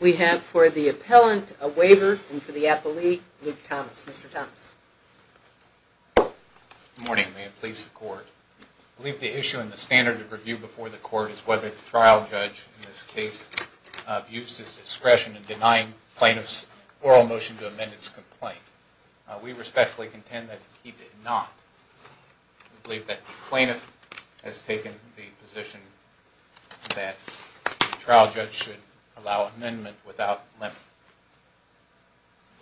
we have for the appellant, a waiver, and for the appellee, Luke Thomas. Mr. Thomas. Good morning. May it please the Court. I believe the issue in the standard of review before the Court is whether the trial judge in this case abused his discretion in denying plaintiffs' oral motion to amend its complaint. We respectfully contend that he did not. We believe that the plaintiff has taken the position that the trial judge should allow amendment without length.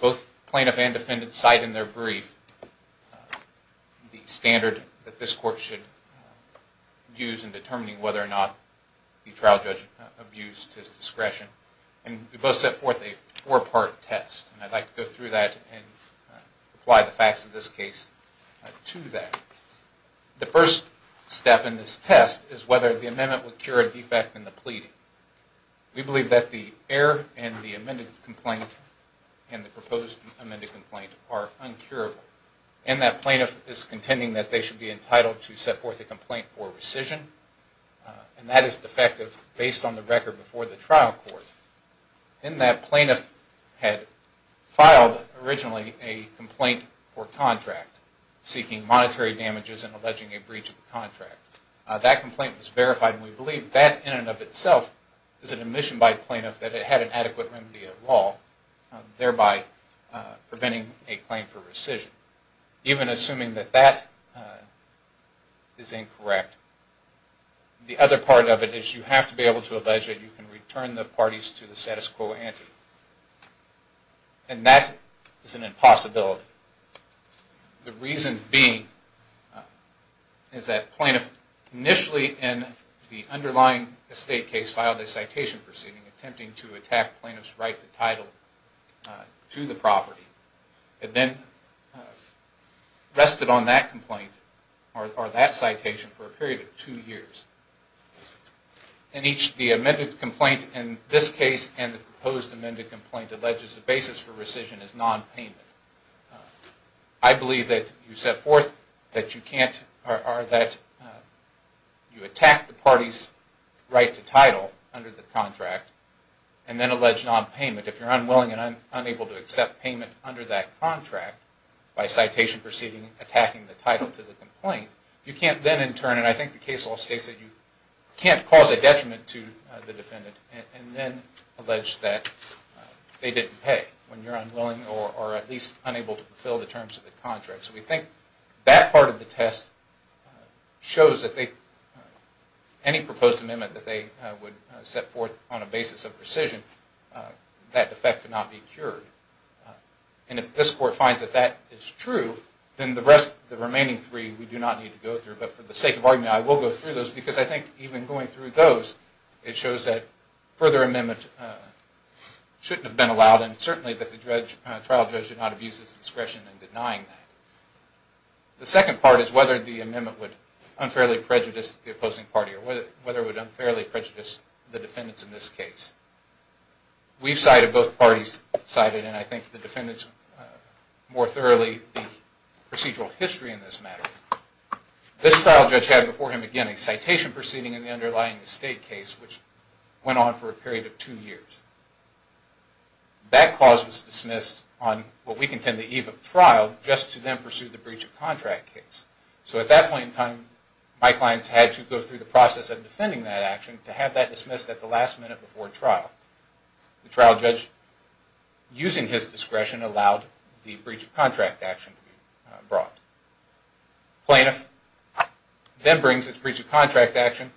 Both plaintiff and defendant cite in their brief the standard that this Court should use in determining whether or not the trial judge abused his discretion. And we both set forth a four-part test, and I'd like to go through that and apply the facts of this case to that. The first step in this test is whether the amendment would cure a defect in the pleading. We believe that the error in the amended complaint and the proposed amended complaint are uncurable, and that plaintiff is contending that they should be entitled to set forth a complaint for rescission, and that is defective based on the record before the trial court, in that plaintiff had filed originally a complaint or contract seeking monetary damages and alleging a breach of the contract. That complaint was verified, and we believe that in and of itself is an admission by the plaintiff that it had an adequate remedy at law, thereby preventing a claim for rescission. Even assuming that that is incorrect, the other part of it is you have to be able to allege that you can return the parties to the status quo ante, and that is an impossibility. The reason being is that plaintiff initially in the underlying estate case filed a citation proceeding attempting to attack plaintiff's right to title to the property, and then rested on that complaint or that citation for a period of two years. In each, the amended complaint in this case and the proposed amended complaint alleges the basis for rescission is non-payment. I believe that you set forth that you can't, or that you attack the parties right to title under the contract, and then allege non-payment. If you are unwilling and unable to accept payment under that contract by citation proceeding attacking the title to the complaint, you can't then in turn, and I think the case law states that you can't cause a detriment to the defendant, and then allege that they didn't pay when you are unwilling or at least unable to fulfill the terms of the contract. So we think that part of the test shows that they, any proposed amendment that they would set forth on a basis of rescission, that effect could not be cured. And if this court finds that that is true, then the rest, the remaining three, we do not need to go through. But for the sake of argument, I will go through those because I think even going through those, it shows that further amendment shouldn't have been allowed and certainly that the trial judge should not abuse his discretion in denying that. The second part is whether the amendment would unfairly prejudice the opposing party or whether it would unfairly prejudice the defendants in this case. We've cited, both parties cited, and I think the defendants more thoroughly, the procedural history in this matter. This trial judge had before him again a citation proceeding in the underlying estate case which went on for a period of two years. That clause was dismissed on what was to then pursue the breach of contract case. So at that point in time, my clients had to go through the process of defending that action to have that dismissed at the last minute before trial. The trial judge, using his discretion, allowed the breach of contract action to be brought. Plaintiff then brings its breach of contract action,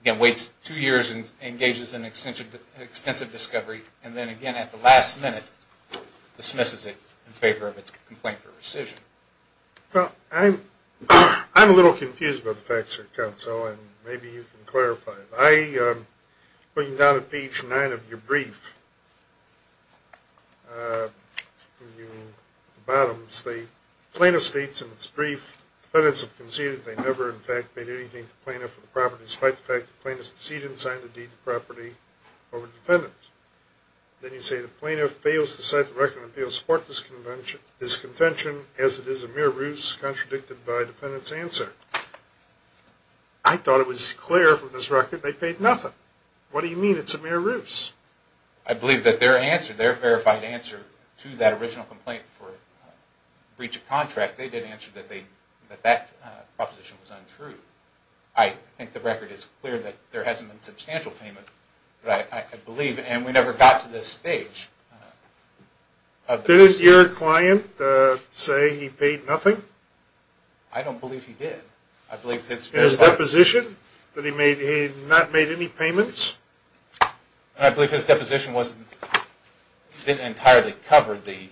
again waits two years and engages in extensive discovery, and then again at the last minute dismisses it in favor of its complaint for rescission. Well, I'm a little confused about the facts here, counsel, and maybe you can clarify it. I, going down to page 9 of your brief, the bottom states, plaintiff states in its brief, defendants have conceded they never in fact made anything to the plaintiff for the property despite the fact the plaintiff succeeded in signing the deed of property over the defendants. Then you say the plaintiff fails to cite the record of appeals for this contention as it is a mere ruse contradicted by defendant's answer. I thought it was clear from this record they paid nothing. What do you mean it's a mere ruse? I believe that their answer, their verified answer to that original complaint for breach of contract, they did answer that that proposition was untrue. I think the record is clear that there hasn't been substantial payment, but I believe, and we never got to this stage. Did your client say he paid nothing? I don't believe he did. In his deposition? That he not made any payments? I believe his deposition didn't entirely cover the,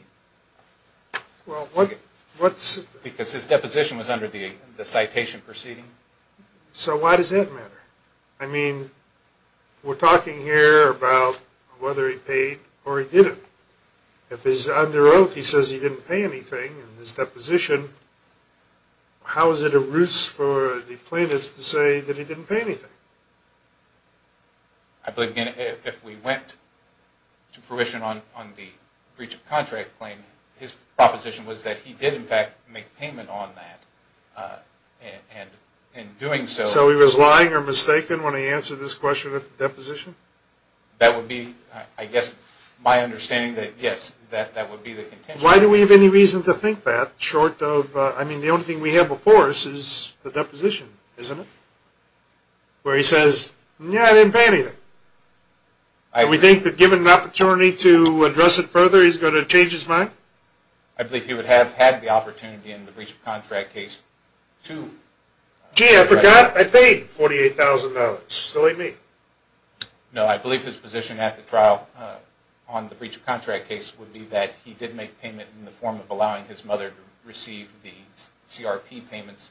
because his deposition was under the citation proceeding. So why does that matter? I mean, we're talking here about whether he paid or he didn't. If he's under oath, he says he didn't pay anything in his deposition, how is it a ruse for the plaintiffs to say that he didn't pay anything? I believe, again, if we went to fruition on the breach of contract claim, his proposition was that he did, in fact, make payment on that, and in doing so... So he was lying or mistaken when he answered this question at the deposition? That would be, I guess, my understanding that yes, that would be the contention. Why do we have any reason to think that, short of, I mean, the only thing we have before us is the deposition, isn't it? Where he says, yeah, I didn't pay anything. Do we think that given an opportunity to address it further, he's going to change his mind? I believe he would have had the opportunity in the breach of contract case to... Gee, I forgot I paid $48,000. Silly me. No, I believe his position at the trial on the breach of contract case would be that he did make payment in the form of allowing his mother to receive the CRP payments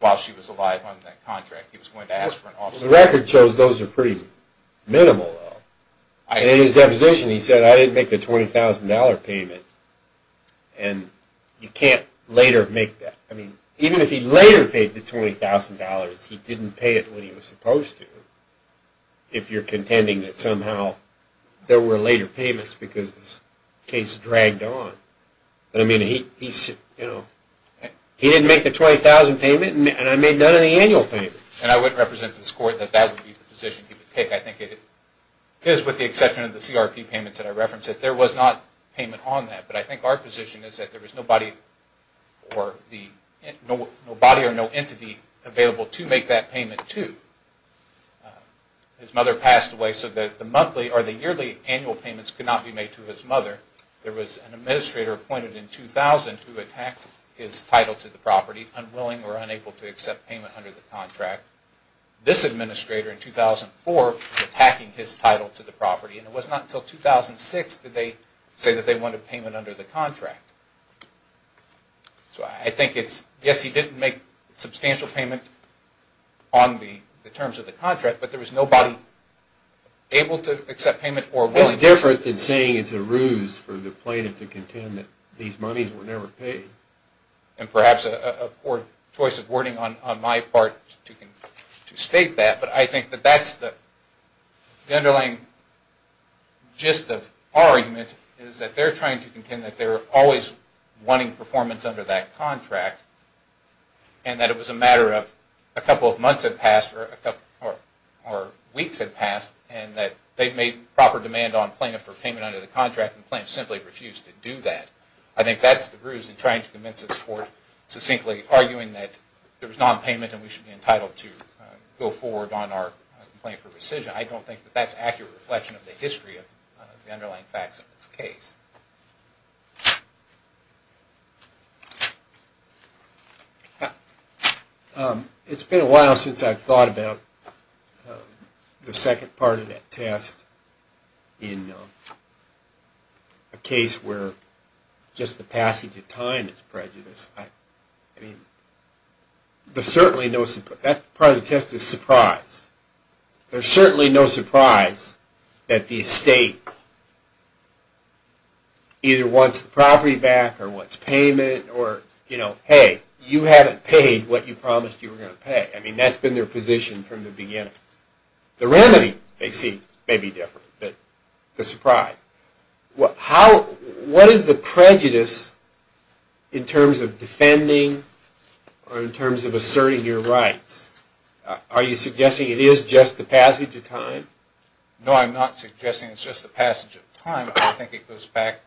while she was alive on that contract. He was going to ask for an officer... The record shows those are pretty minimal, though. In his deposition, he said, I didn't make the $20,000 payment, and you can't later make that. I mean, even if he later paid the $20,000, he didn't pay it when he was supposed to, if you're contending that somehow there were later payments because this case dragged on. But, I mean, he didn't make the $20,000 payment, and I made none of the annual payments. And I wouldn't represent this Court that that would be the position he would take. I think it is, with the exception of the CRP payments that I referenced, that there was not payment on that. But I think our position is that there was nobody or no entity available to make that payment to. His mother passed away so that the monthly or the yearly annual payments could not be made to his mother. There was an administrator appointed in 2000 who attacked his title to the property, unwilling or unable to accept payment under the contract. This administrator in 2004 was attacking his title to the property, and it was not until 2006 did they say that they wanted payment under the contract. So I think it's, yes, he didn't make substantial payment on the terms of the contract, but there was nobody able to accept payment or willing to accept payment. What's different than saying it's a ruse for the plaintiff to contend that these monies were never paid? And perhaps a poor choice of wording on my part to state that, but I think the gist of our argument is that they're trying to contend that they're always wanting performance under that contract, and that it was a matter of a couple of months had passed or weeks had passed, and that they've made proper demand on plaintiff for payment under the contract, and the plaintiff simply refused to do that. I think that's the ruse in trying to convince us toward succinctly arguing that there was nonpayment and we should be entitled to go forward on our complaint for rescission. I don't think that that's accurate reflection of the history of the underlying facts of this case. It's been a while since I've thought about the second part of that test in a case where just the passage of time is prejudiced. There's certainly no surprise that the estate either wants the property back or wants payment, or hey, you haven't paid what you promised you were going to pay. I mean, that's been their position from the beginning. The remedy they see may be different, but the surprise. What is the prejudice in terms of defending or in terms of asserting your rights? Are you suggesting it is just the passage of time? No, I'm not suggesting it's just the passage of time. I think it goes back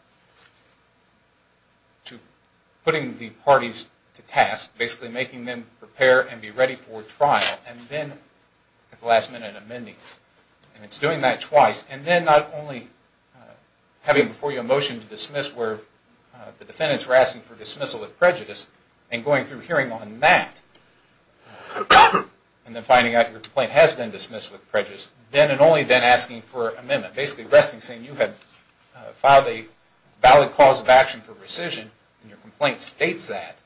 to putting the parties to task, basically making them prepare and be ready for trial, and then at the last minute amending it. It's doing that twice, and then not only having before you a motion to dismiss where the defendants were asking for dismissal with prejudice, and going through hearing on that, and then finding out your complaint has been dismissed with prejudice, then and only then asking for amendment, basically resting saying you have filed a valid cause of action for rescission and your complaint states that,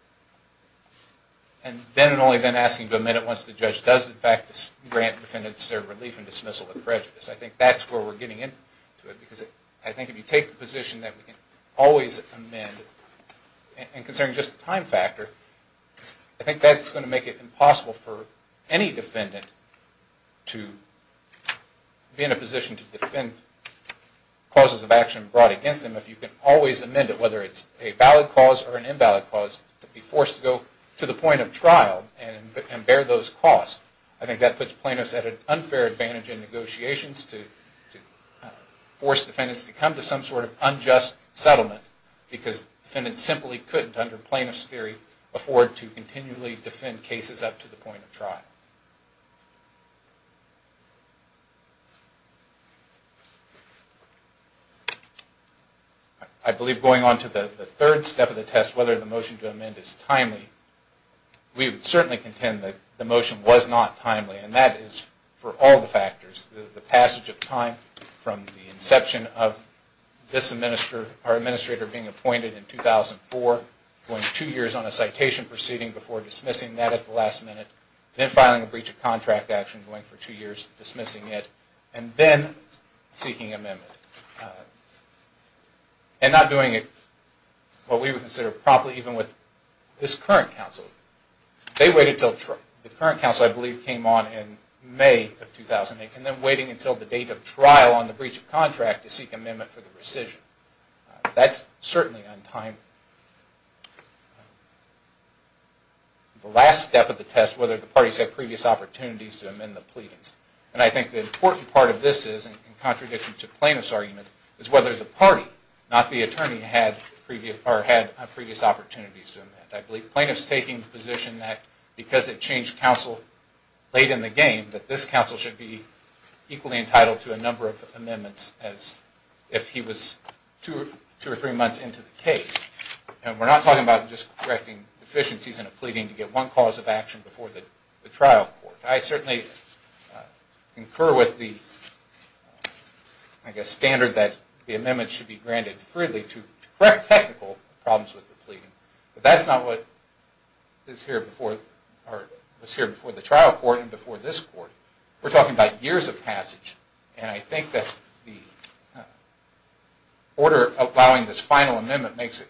and then and only then asking to amend it once the judge does in fact grant defendants their relief and dismissal with prejudice. I think that's where we're getting into it, because I think if you take the position that we can always amend it, and considering just the time factor, I think that's going to make it impossible for any defendant to be in a position to defend causes of action brought against them if you can always amend it whether it's a valid cause or an invalid cause to be forced to go to the point of trial and bear those costs. I think that puts plaintiffs at an unfair advantage in negotiations to force defendants to come to some sort of unjust settlement, because defendants simply couldn't under plaintiff's theory afford to continually defend cases up to the point of trial. I believe going on to the third step of the test, whether the motion to amend is timely, we would certainly contend that the motion was not timely, and that is for all the factors, the passage of time from the inception of this administrator being appointed in 2004, going two years on a citation proceeding before dismissing that at the last minute, then filing a breach of contract action, going for two years dismissing it, and then seeking amendment, and not doing it what we would consider probably even with this current counsel. They waited until the current counsel I believe came on in May of 2008, and then waiting until the date of trial on the breach of contract to seek amendment for the rescission. That's previous opportunities to amend the pleadings. And I think the important part of this is, in contradiction to plaintiff's argument, is whether the party, not the attorney, had previous opportunities to amend. I believe plaintiff's taking the position that because it changed counsel late in the game, that this counsel should be equally entitled to a number of amendments as if he was two or three months into the case. And we're not talking about just correcting deficiencies in a pleading to get one cause of action before the trial court. I certainly concur with the, I guess, standard that the amendment should be granted freely to correct technical problems with the pleading. But that's not what is here before the trial court and before this court. We're talking about years of passage. And I think that the order allowing this final amendment makes it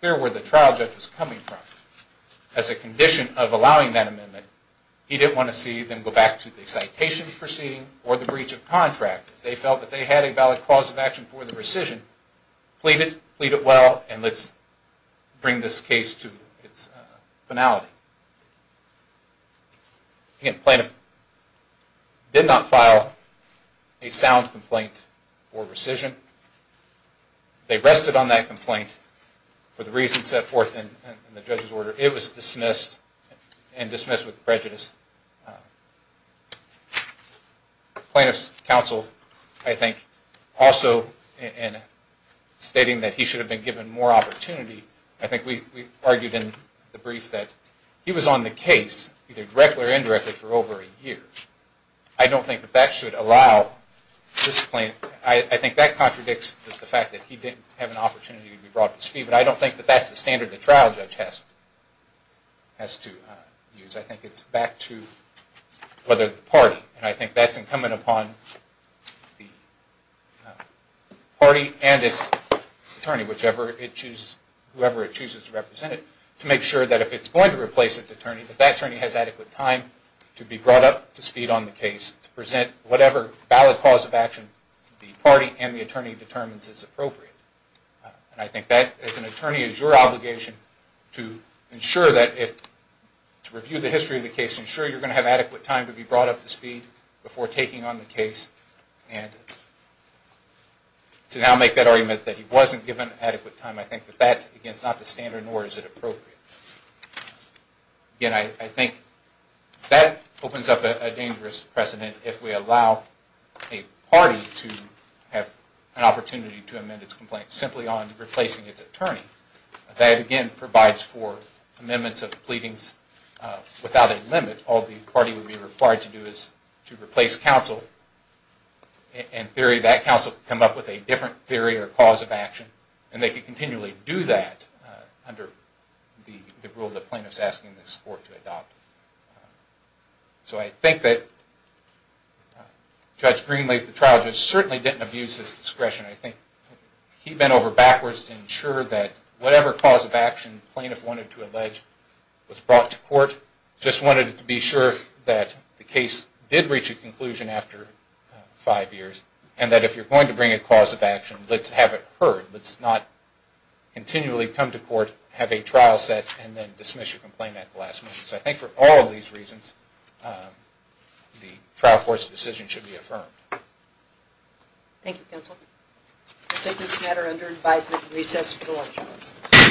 clear where the trial judge was coming from. As a condition of allowing that amendment, he didn't want to see them go back to the citation proceeding or the breach of contract. They felt that they had a valid cause of action for the rescission. Plead it, plead it well, and let's bring this case to its finality. Again, plaintiff did not file a sound complaint for rescission. They rested on that complaint for the reasons set forth in the judge's order. It was dismissed and dismissed with prejudice. Plaintiff's counsel, I think, also in stating that he should have been given more opportunity, I think we argued in the brief that he was on the case, either directly or indirectly, for over a year. I don't think that that should allow this plaintiff, I think that contradicts the fact that he didn't have an opportunity to be brought to speed, but I don't think that that's the standard the trial judge has to use. I think it's back to whether the party, and I think that's incumbent upon the party and its attorney, whichever it chooses, whoever it chooses to represent it, to make sure that if it's going to replace its attorney, that that attorney has adequate time to be brought up to speed on the case, to present whatever valid cause of action the party and the attorney determines is appropriate. And I think that, as an attorney, is your obligation to ensure that if, to review the history of the case, ensure you're going to have adequate time to be brought up to speed before taking on the case. And to now make that argument that he wasn't given adequate time, I think that that, again, is not the standard, nor is it appropriate. Again, I think that opens up a dangerous precedent if we allow a party to have an opportunity to amend its complaint simply on replacing its attorney. That, again, provides for amendments of pleadings without a limit. All the party would be required to do is to replace counsel. In theory, that would be the case, but we would not continually do that under the rule the plaintiff is asking the court to adopt. So I think that Judge Green laid the trial, just certainly didn't abuse his discretion. I think he bent over backwards to ensure that whatever cause of action the plaintiff wanted to allege was brought to court, just wanted to be sure that the case did reach a conclusion after five years, and that if you're going to bring a cause of action, let's have it heard. Let's not continually come to court, have a trial set, and then dismiss your complaint at the last minute. So I think for all of these reasons, the trial court's decision should be affirmed. Thank you, counsel. I'll take this matter under advisement and recess for the lunch hour.